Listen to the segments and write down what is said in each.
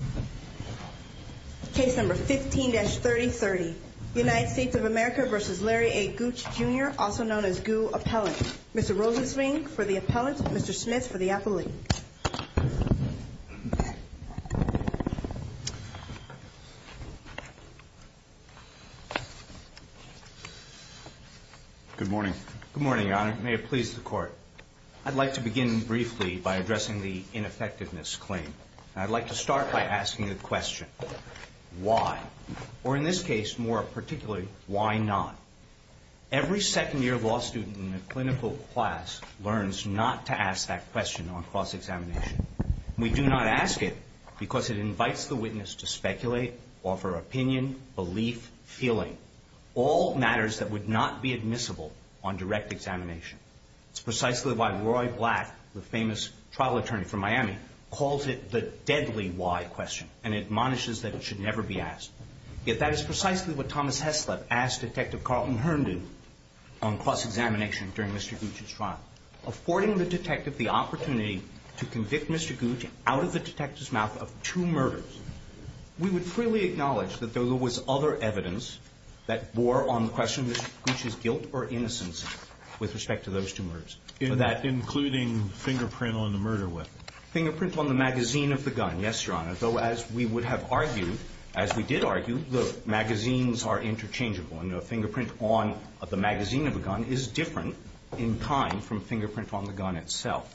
Appellant. Mr. Rosenswing for the Appellant, Mr. Smith for the Appellant. Good morning. Good morning, Your Honor. May it please the Court. I'd like to begin briefly by addressing the ineffectiveness claim. I'd like to start by asking a question. Why? Or in this case, more particularly, why not? Every second year law student in a clinical class learns not to ask that question on cross-examination. We do not ask it because it invites the witness to speculate, offer opinion, belief, feeling. All matters that would not be admissible on cross-examination. The famous trial attorney from Miami calls it the deadly why question and admonishes that it should never be asked. Yet that is precisely what Thomas Heslop asked Detective Carlton Herndon on cross-examination during Mr. Gooch's trial. Affording the detective the opportunity to convict Mr. Gooch out of the detective's mouth of two murders, we would freely acknowledge that there was other evidence that bore on the question of Mr. Gooch's guilt or innocence with respect to those two murders. Including fingerprint on the murder weapon? Fingerprint on the magazine of the gun, yes, Your Honor. Though as we would have argued, as we did argue, the magazines are interchangeable. And a fingerprint on the magazine of a gun is different in kind from fingerprint on the gun itself.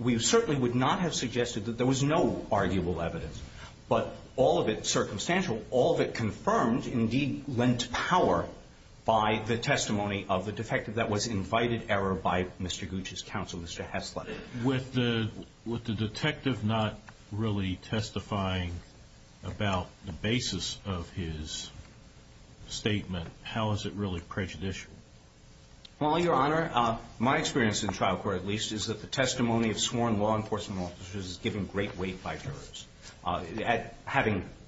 We certainly would not have suggested that there was no arguable evidence. But all of it, circumstantial, all of it confirmed indeed lent power by the testimony of the defective that was invited error by Mr. Gooch's counsel, Mr. Heslop. With the detective not really testifying about the basis of his statement, how is it really prejudicial? Well, Your Honor, my experience in trial court at least is that the testimony of sworn law enforcement officers is given great weight by jurors. Having been given great weight by the testimony of the defendants, I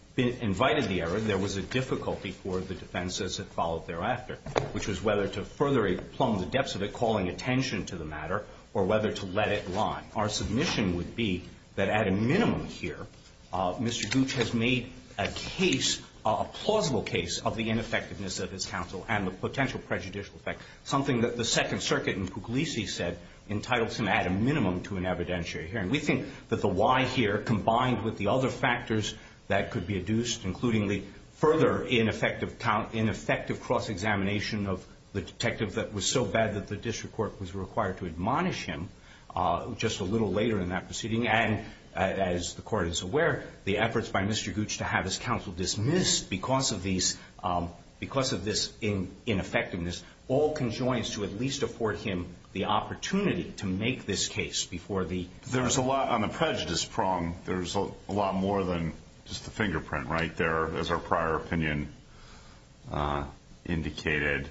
would argue that there is a difficulty for the defense as it followed thereafter, which was whether to further plumb the depths of it, calling attention to the matter, or whether to let it lie. Our submission would be that at a minimum here, Mr. Gooch has made a case, a plausible case, of the ineffectiveness of his counsel and the potential prejudicial effect, something that the Second Amendment does not allow. I would argue that there is a further ineffective cross-examination of the detective that was so bad that the district court was required to admonish him just a little later in that proceeding. And as the Court is aware, the efforts by Mr. Gooch to have his counsel dismissed because of this ineffectiveness all conjoins to at least afford him the opportunity to make this case before the... There's a lot on the prejudice prong. There's a lot more than just the fingerprint right there, as our prior opinion indicated.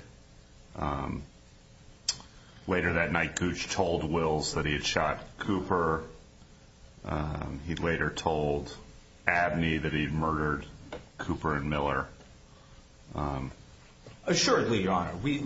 Later that night, Gooch told Wills that he had shot Cooper. He later told Abney that he'd murdered Cooper and Miller. Assuredly, Your Honor, we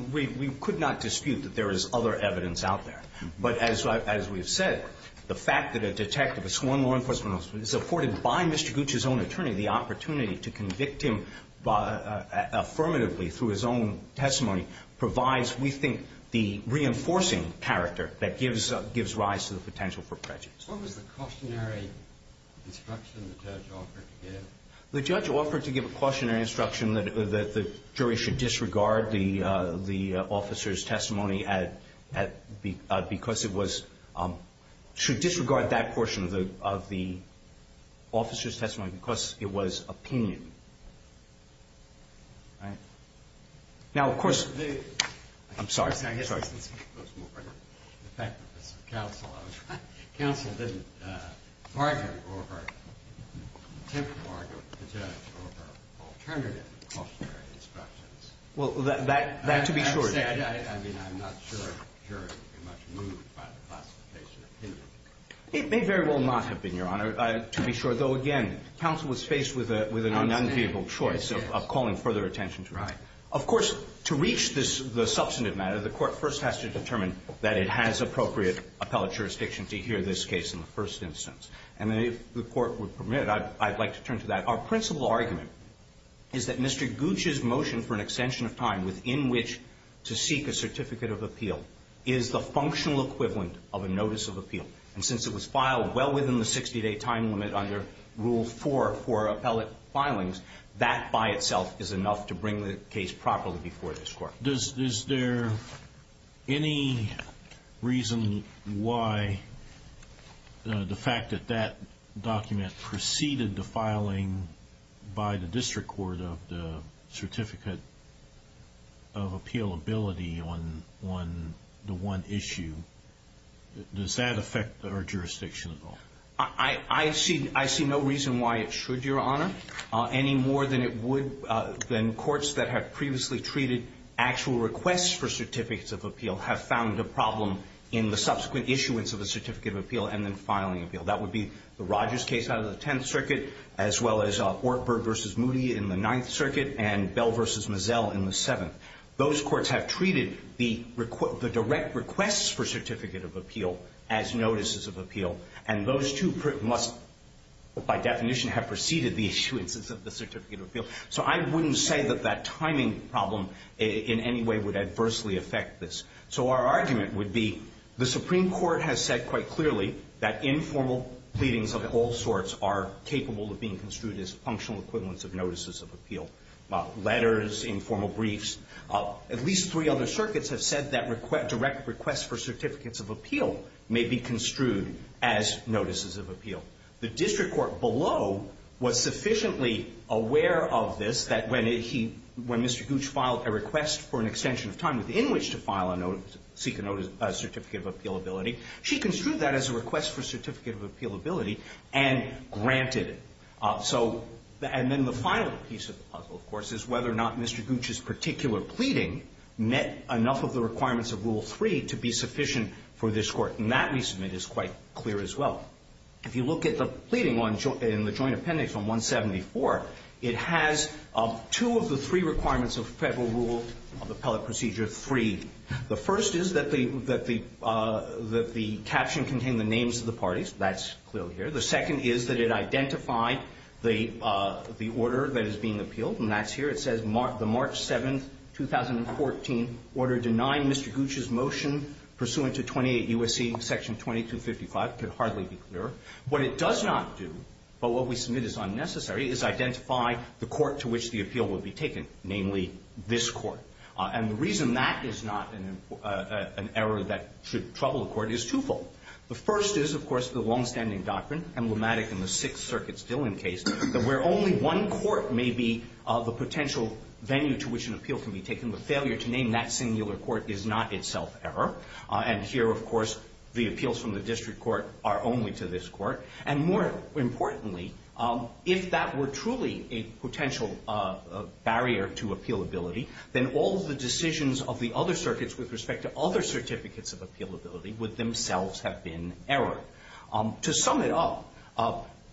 could not dispute that there is other evidence out there. But as we have said, the fact that a detective, a sworn law enforcement officer, is afforded by Mr. Gooch's own attorney the opportunity to convict him affirmatively through his own testimony provides, we think, the reinforcing character that gives rise to the potential for prejudice. What was the cautionary instruction the judge offered to give? The judge offered to give a cautionary instruction that the jury should disregard the officer's testimony because it was... Should disregard that portion of the officer's testimony because it was opinion. Now, of course... I'm sorry. Counsel didn't argue or attempt to argue with the judge over alternative cautionary instructions. Well, that to be sure. I mean, I'm not sure a jury would be much moved by the classification of opinion. It may very well not have been, Your Honor, to be sure. Though, again, counsel was faced with an unenviable choice of calling further attention to it. Right. Of course, to reach the substantive matter, the court first has to determine that it has appropriate appellate jurisdiction to hear this case in the first instance. And if the court would permit, I'd like to turn to that. Our principal argument is that Mr. Gooch's motion for an extension of time within which to seek a certificate of appeal is the functional equivalent of a notice of appeal. And since it was filed well within the 60-day time limit under Rule 4 for appellate filings, that by itself is enough to bring the case properly before this court. Is there any reason why the fact that that document preceded the filing by the District Court of the certificate of appealability on the one issue, does that affect our jurisdiction at all? I see no reason why it should, Your Honor, any more than it would than courts that have previously treated actual requests for certificates of appeal have found a problem in the subsequent issuance of a certificate of appeal and then filing appeal. That would be the Rogers case out of the Tenth Circuit, as well as Ortberg v. Moody in the Ninth Circuit and Bell v. Mazzell in the Seventh. Those courts have treated the direct requests for certificate of appeal as notices of appeal. And those two must, by definition, have preceded the issuances of the certificate of appeal. So I wouldn't say that that timing problem in any way would adversely affect this. So our argument would be the Supreme Court has said quite clearly that informal pleadings of all sorts are capable of being construed as functional equivalents of notices of appeal, letters, informal briefs. At least three other circuits have said that direct requests for certificates of appeal may be construed as notices of appeal. The district court below was sufficiently aware of this that when he, when Mr. Gooch filed a request for an extension of time within which to file a notice, seek a certificate of appealability, she construed that as a request for certificate of appealability and granted it. So, and then the final piece of the puzzle, of course, is whether or not Mr. Gooch's particular pleading met enough of the requirements of Rule 3 to be sufficient for this court. And that, we submit, is quite clear as well. If you look at the pleading in the Joint Appendix on 174, it has two of the three requirements of Federal Rule of Appellate Procedure 3. The first is that the caption contained the names of the parties. That's clear here. The second is that it identified the order that is being Mr. Gooch's motion pursuant to 28 U.S.C. Section 2255 could hardly be clearer. What it does not do, but what we submit is unnecessary, is identify the court to which the appeal would be taken, namely this court. And the reason that is not an error that should trouble the Court is twofold. The first is, of course, the longstanding doctrine, emblematic in the Sixth Circuit's Dillon case, that where only one court may be the potential venue to which an appeal can be taken. The failure to name that singular court is not itself error. And here, of course, the appeals from the District Court are only to this court. And more importantly, if that were truly a potential barrier to appealability, then all of the decisions of the other circuits with respect to other certificates of appealability would themselves have been error. To sum it up,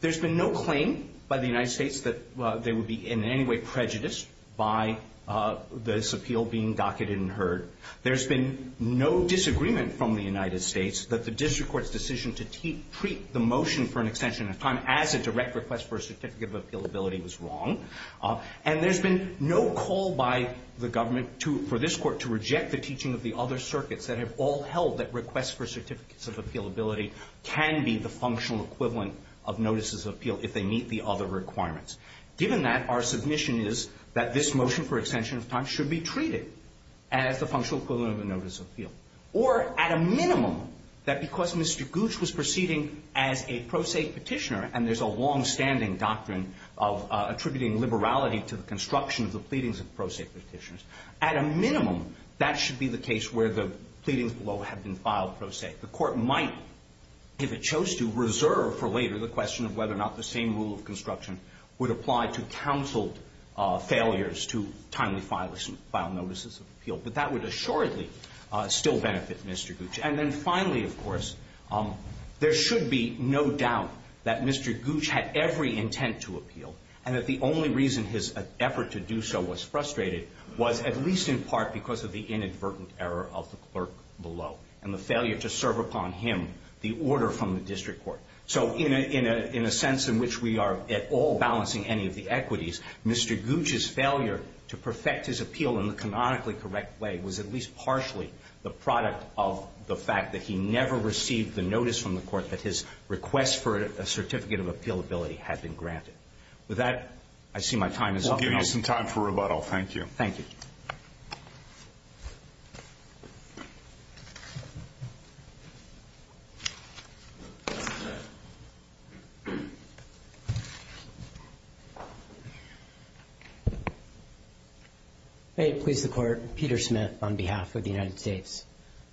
there's been no claim by the United States that they would be in any way prejudiced by this appeal being docketed and heard. There's been no disagreement from the United States that the District Court's decision to treat the motion for an extension of time as a direct request for a certificate of appealability was wrong. And there's been no call by the government for this to be a direct request for a certificate of appealability. And there's been no call for any other circuits that have all held that requests for certificates of appealability can be the functional equivalent of notices of appeal if they meet the other requirements. Given that, our submission is that this motion for extension of time should be treated as the functional equivalent of a notice of appeal. Or, at a minimum, that because Mr. Gooch was proceeding as a pro se petitioner, and there's a longstanding doctrine of attributing liberality to the construction of the pleadings of pro se petitioners, at a minimum, that should be the case where the pleadings below have been filed pro se. The Court might, if it chose to, reserve for later the question of whether or not the same rule of construction would apply to counseled failures to timely file notices of appeal. But that would assuredly still benefit Mr. Gooch. And then finally, of course, there should be no doubt that Mr. Gooch had every intent to appeal and that the only reason his effort to do so was frustrated was at least in part because of the inadvertent error of the clerk below and the failure to serve upon him the order from the district court. So in a sense in which we are at all balancing any of the equities, Mr. Gooch's failure to perfect his appeal in the canonically correct way was at least partially the product of the fact that he never received the notice from the Court that his request for a certificate of appealability had been granted. With that, I see my time is up. I'll give you some time for rebuttal. Thank you. May it please the Court. Peter Smith on behalf of the United States.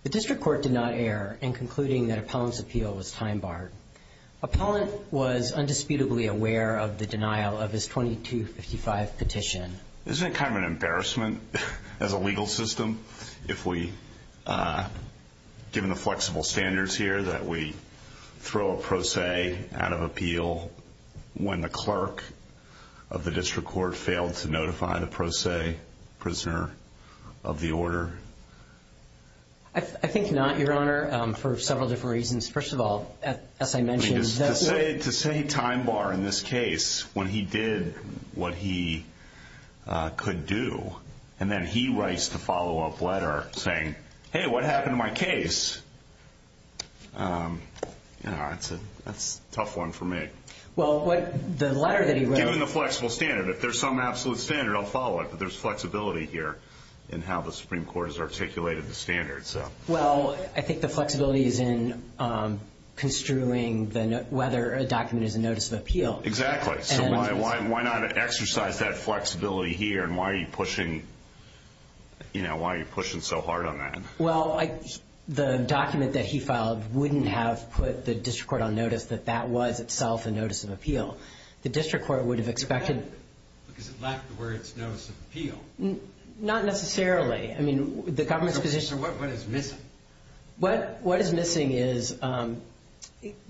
The district court did not err in concluding that Appellant's appeal was time barred. Appellant was undisputedly aware of the denial of his 2255 petition. Isn't it kind of an embarrassment as a legal system if we, given the flexible standards here, that we throw a pro se out of appeal when the clerk of the district court failed to notify the pro se prisoner of the order? I think not, Your Honor, for several different reasons. First of all, as I mentioned... To say time bar in this case when he did what he could do, and then he writes the follow up letter saying, hey, what happened to my case? That's a tough one for me. Well, the letter that he wrote... Given the flexible standard, if there's some absolute standard, I'll follow it, but there's no way the Supreme Court has articulated the standard. Well, I think the flexibility is in construing whether a document is a notice of appeal. Exactly. So why not exercise that flexibility here, and why are you pushing so hard on that? Well, the document that he filed wouldn't have put the district court on notice that that was itself a notice of appeal. The district court would have expected... So what is missing? What is missing is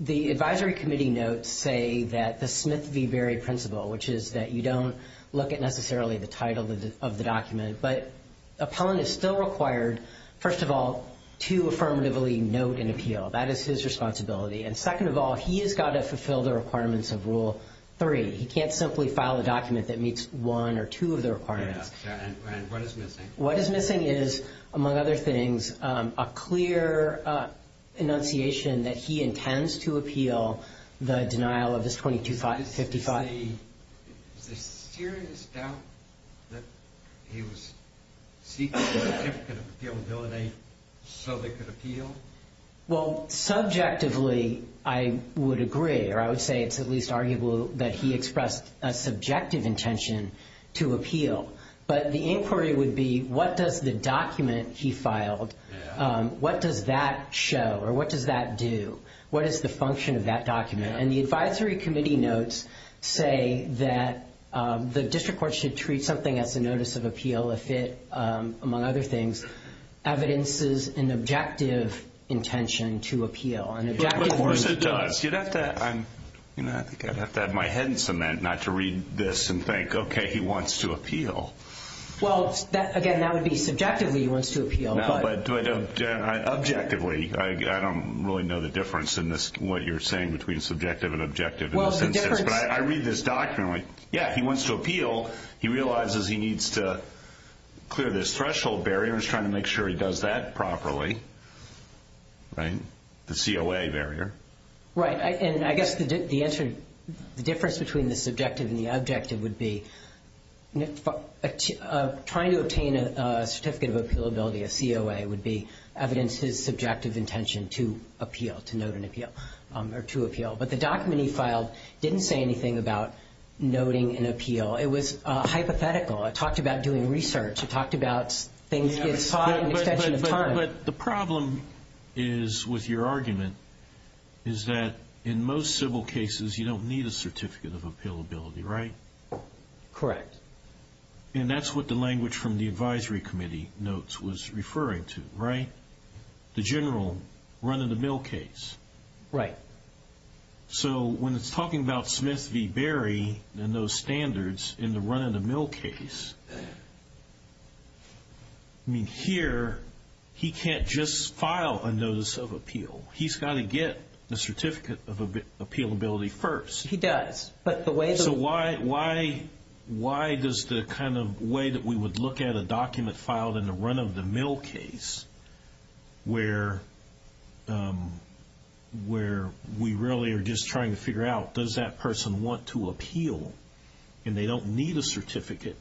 the advisory committee notes say that the Smith v. Berry principle, which is that you don't look at necessarily the title of the document, but appellant is still required, first of all, to affirmatively note an appeal. That is his responsibility. And second of all, he has got to fulfill the requirements of Rule 3. He can't simply file a document that meets one or two of the requirements, which is, among other things, a clear enunciation that he intends to appeal the denial of his 2255. Is there serious doubt that he was seeking a certificate of appeal in Bill 8 so they could appeal? Well, subjectively, I would agree, or I would say it's at least arguable that he expressed a subjective intention to appeal. But the inquiry would be, what does the document he filed, what does that show or what does that do? What is the function of that document? And the advisory committee notes say that the district court should treat something as a notice of appeal if it, among other things, evidences an objective intention to appeal. Of course it does. I think I'd have to have my head cement not to read this and think, okay, he wants to appeal. Well, again, that would be subjectively he wants to appeal. No, but objectively, I don't really know the difference in what you're saying between subjective and objective in this instance. But I read this document, like, yeah, he wants to appeal. He realizes he needs to clear this threshold barrier. He's trying to make sure he does that properly. The COA barrier. Right. And I guess the difference between the subjective and the objective would be trying to obtain a certificate of appealability, a COA, would be evidences subjective intention to appeal, to note an appeal, or to appeal. But the document he filed didn't say anything about noting an appeal. It was hypothetical. It talked about doing research. It talked about things getting sought in an extension of time. But the problem is, with your argument, is that in most civil cases you don't need a certificate of appealability, right? Correct. And that's what the language from the advisory committee notes was referring to, right? The general run-of-the-mill case. Right. So when it's I mean, here, he can't just file a notice of appeal. He's got to get a certificate of appealability first. He does. So why does the kind of way that we would look at a document filed in a run-of-the-mill case where we really are just trying to figure out, does that person want to appeal and they don't need a certificate,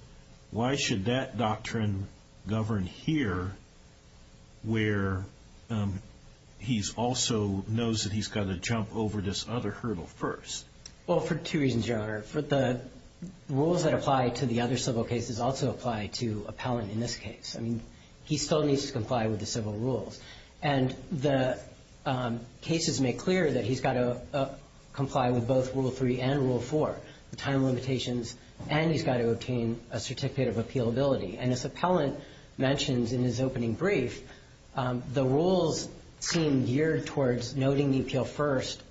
why should that doctrine govern here where he's also knows that he's got to jump over this other hurdle first? Well, for two reasons, Your Honor. The rules that apply to the other civil cases also apply to appellant in this case. I mean, he still needs to comply with the civil rules. And the cases make clear that he's got to comply with both Rule 3 and Rule 4, the time limitations, and he's got to obtain a certificate of appealability. And as appellant mentions in his opening brief, the rules seem geared towards noting the appeal first.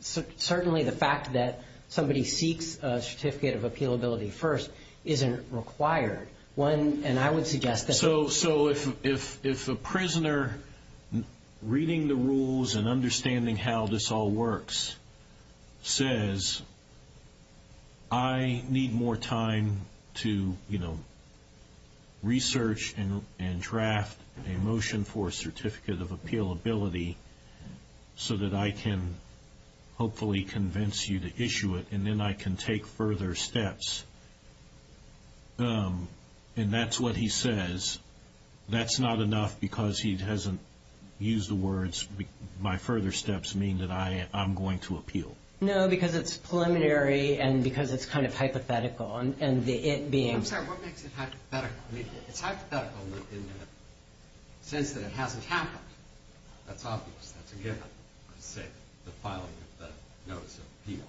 Certainly the fact that somebody seeks a certificate of appealability first isn't required. And I would suggest that... So if a prisoner, reading the rules and understanding how this all works, says, I need more time to, you know, research and draft a motion for a certificate of appealability so that I can hopefully convince you to issue it and then I can take further steps, and that's what he says, that's not enough because he hasn't used the words, my further steps mean that I'm going to appeal. No, because it's preliminary and because it's kind of hypothetical. I'm sorry, what makes it hypothetical? I mean, it's hypothetical in the sense that it hasn't happened. That's obvious. That's a given, I'd say, the filing of the notice of appeal.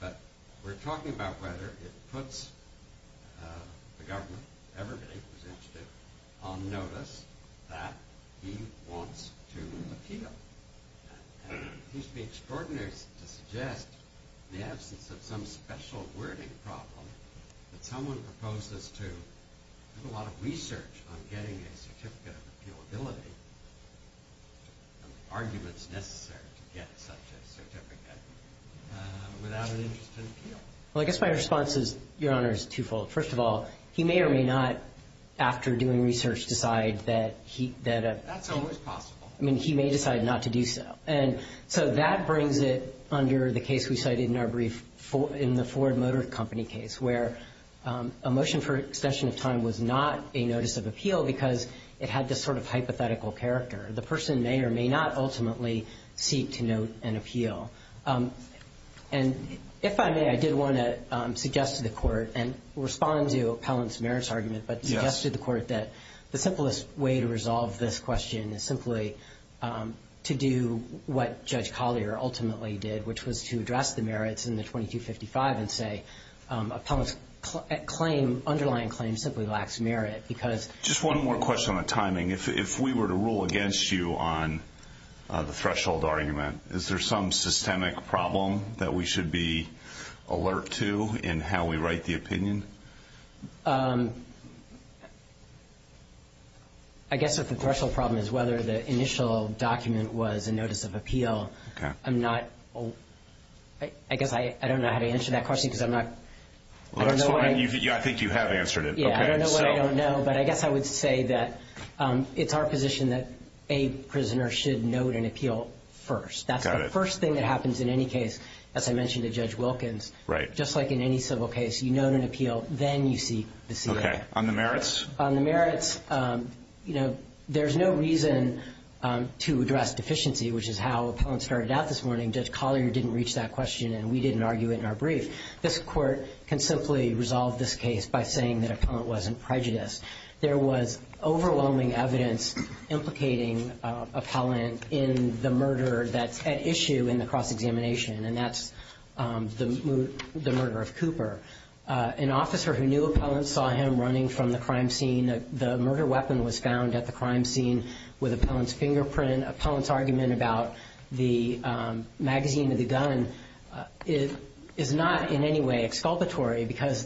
But we're talking about whether it puts the government, everybody who's interested, on notice that he wants to appeal. And it seems to be extraordinary to suggest in the absence of some special wording problem that someone proposes to do a lot of research on getting a certificate of appealability and the arguments necessary to get such a certificate without an interest in appeal. Well, I guess my response is, Your Honor, is twofold. First of all, he may or may not, after doing research, decide that... That's always possible. I mean, he may decide not to do so. And so that brings it under the case we cited in our brief in the Ford Motor Company case, where a motion for extension of time was not a notice of appeal because it had this sort of hypothetical character. The person may or may not ultimately seek to note an appeal. And if I may, I did want to suggest to the Court and respond to Appellant's merits argument, but suggest to the Court that the simplest way to resolve this question is simply to do what Judge Collier ultimately did, which was to address the merits in the 2255 and say Appellant's claim, underlying claim, simply lacks merit because... Just one more question on timing. If we were to rule against you on the threshold argument, is there some systemic problem that we should address? I guess if the threshold problem is whether the initial document was a notice of appeal, I'm not... I guess I don't know how to answer that question because I'm not... I think you have answered it. I don't know what I don't know, but I guess I would say that it's our position that a prisoner should note an appeal first. That's the first thing that happens in any case, as I mentioned to Judge Wilkins. Just like in any civil case, you note an appeal, then you seek the C.A. On the merits, there's no reason to address deficiency, which is how Appellant started out this morning. Judge Collier didn't reach that question and we didn't argue it in our brief. This Court can simply resolve this case by saying that Appellant wasn't prejudiced. There was overwhelming evidence implicating Appellant in the murder that's at issue in the cross-examination, and that's the murder of Cooper. An officer who knew Appellant saw him running from the crime scene. The murder weapon was found at the crime scene with Appellant's fingerprint. Appellant's argument about the magazine with the gun is not in any way exculpatory because,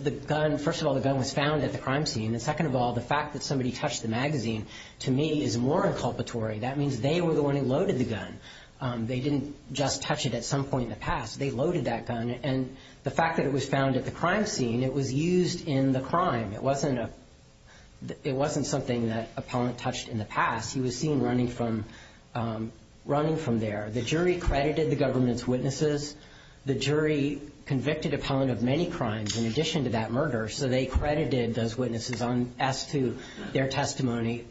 first of all, the gun was found at the crime scene. Second of all, the fact that somebody touched the magazine, to me, is more inculpatory. That means they were the one who loaded the gun. They didn't just touch it at some point in the past. They loaded that gun. The fact that it was found at the crime scene, it was used in the crime. It wasn't something that Appellant touched in the past. He was seen running from there. The jury credited the government's witnesses. The jury convicted Appellant of many crimes in addition to that murder, so they credited those witnesses as to their testimony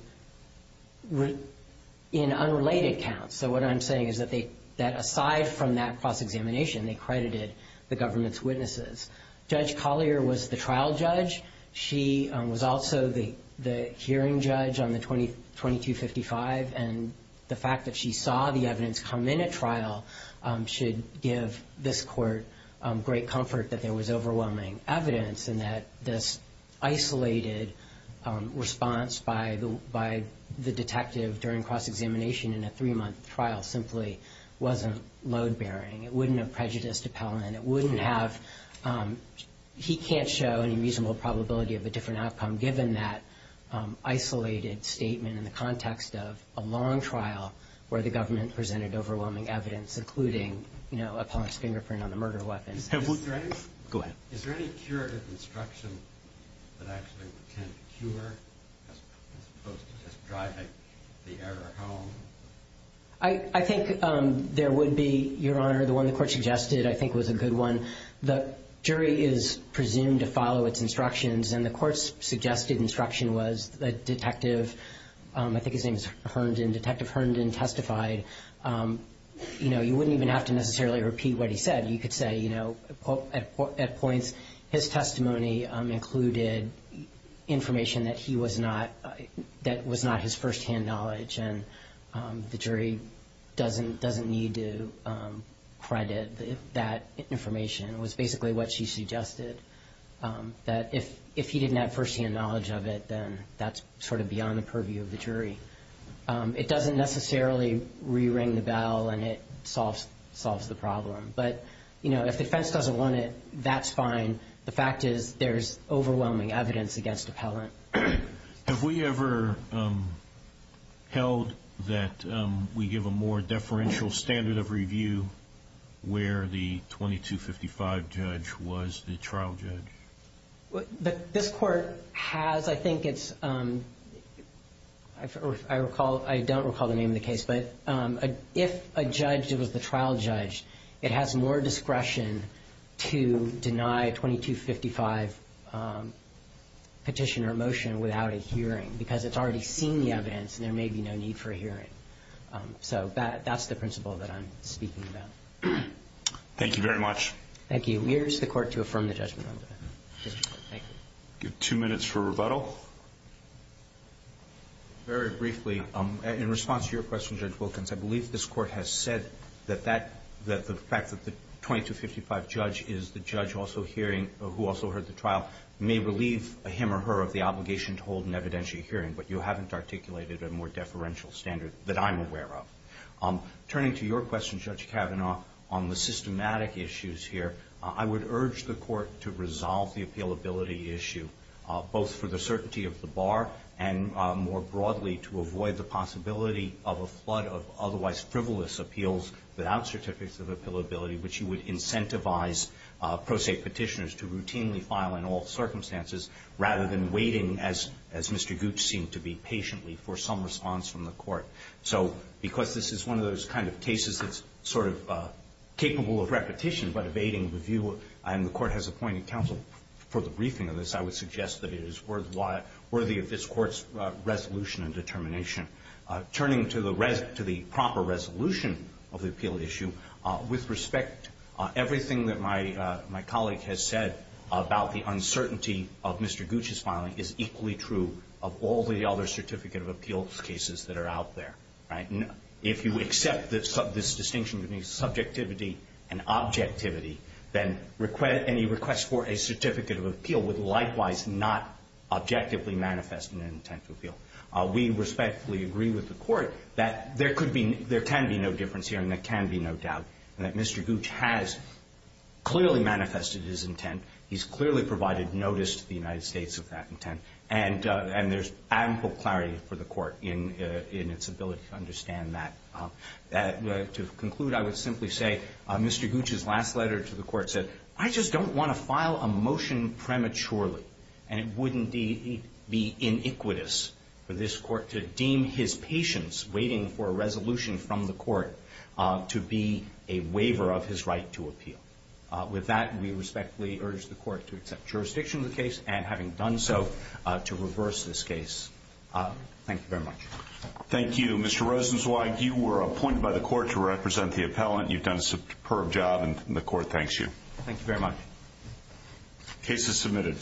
in unrelated counts. So what I'm saying is that aside from that cross-examination, they credited the government's witnesses. Judge Collier was the trial judge. She was also the hearing judge on the 2255, and the fact that she saw the evidence come in at trial should give this court great comfort that there was overwhelming evidence and that this isolated response by the detective during cross-examination in a three-month trial simply wasn't load-bearing. It wouldn't have prejudiced Appellant. It wouldn't have he can't show any reasonable probability of a different outcome given that isolated statement in the context of a long trial where the government presented overwhelming evidence, including Appellant's fingerprint on the murder weapon. Go ahead. Is there any curative instruction that actually can cure as opposed to just driving the error home? I think there would be, Your Honor. The one the court suggested I think was a good one. The jury is presumed to follow its instructions, and the court's suggested instruction was that Detective, I think his name is Herndon, Detective Herndon testified. You wouldn't even have to necessarily repeat what he said. You could say at points his testimony included information that was not his firsthand knowledge, and the jury doesn't need to credit that information. It was basically what she suggested, that if he didn't have firsthand knowledge of it, then that's sort of beyond the purview of the jury. It doesn't necessarily re-ring the bell, and it solves the problem. But if the defense doesn't want it, that's fine. The fact is there's overwhelming evidence against Appellant. Have we ever held that we give a more deferential standard of review where the 2255 judge was the trial judge? This court has. I think it's I don't recall the name of the case, but if a judge was the trial judge, it has more discretion to deny 2255 petition or motion without a hearing, because it's already seen the evidence, and there may be no need for a hearing. So that's the principle that I'm speaking about. Thank you very much. Thank you. We urge the Court to affirm the judgment. Two minutes for rebuttal. Very briefly, in response to your question, Judge Wilkins, I believe this Court has said that the fact that the 2255 judge is the judge who also heard the trial may relieve him or her of the obligation to hold an evidentiary hearing, but you haven't articulated a more deferential standard that I'm aware of. Turning to your question, Judge Kavanaugh, on the systematic issues here, I would urge the Court to resolve the appealability issue, both for the certainty of the bar and, more broadly, to avoid the possibility of a flood of otherwise frivolous appeals without certificates of appealability, which you would incentivize pro se Petitioners to routinely file in all circumstances rather than waiting, as Mr. Gooch seemed to be, patiently for some response from the Court. So because this is one of those kind of cases that's sort of capable of repetition but evading the view and the Court has appointed counsel for the briefing of this, I would suggest that it is worthy of this Court's resolution and determination. Turning to the proper resolution of the appeal issue, with respect, everything that my colleague has said about the uncertainty of Mr. Gooch's filing is equally true of all the other certificate of appeals cases that are out there. If you accept this distinction between subjectivity and objectivity, then any request for a certificate of appeal would likewise not objectively manifest an intent to appeal. We respectfully agree with the Court that there could be there can be no difference here and there can be no doubt that Mr. Gooch has clearly manifested his intent, he's clearly provided notice to the United States of that intent, and there's ample clarity for the Court in its ability to understand that. To conclude, I would simply say Mr. Gooch's last letter to the Court said, I just don't want to file a motion prematurely, and it would indeed be iniquitous for this Court to deem his patience waiting for a resolution from the Court to be a waiver of his right to appeal. With that, we respectfully urge the Court to accept jurisdiction of the case, and having done so, to reverse this case. Thank you very much. Thank you. Mr. Rosenzweig, you were appointed by the Court to represent the appellant. You've done a superb job, and the Court thanks you. Thank you very much. Case is submitted.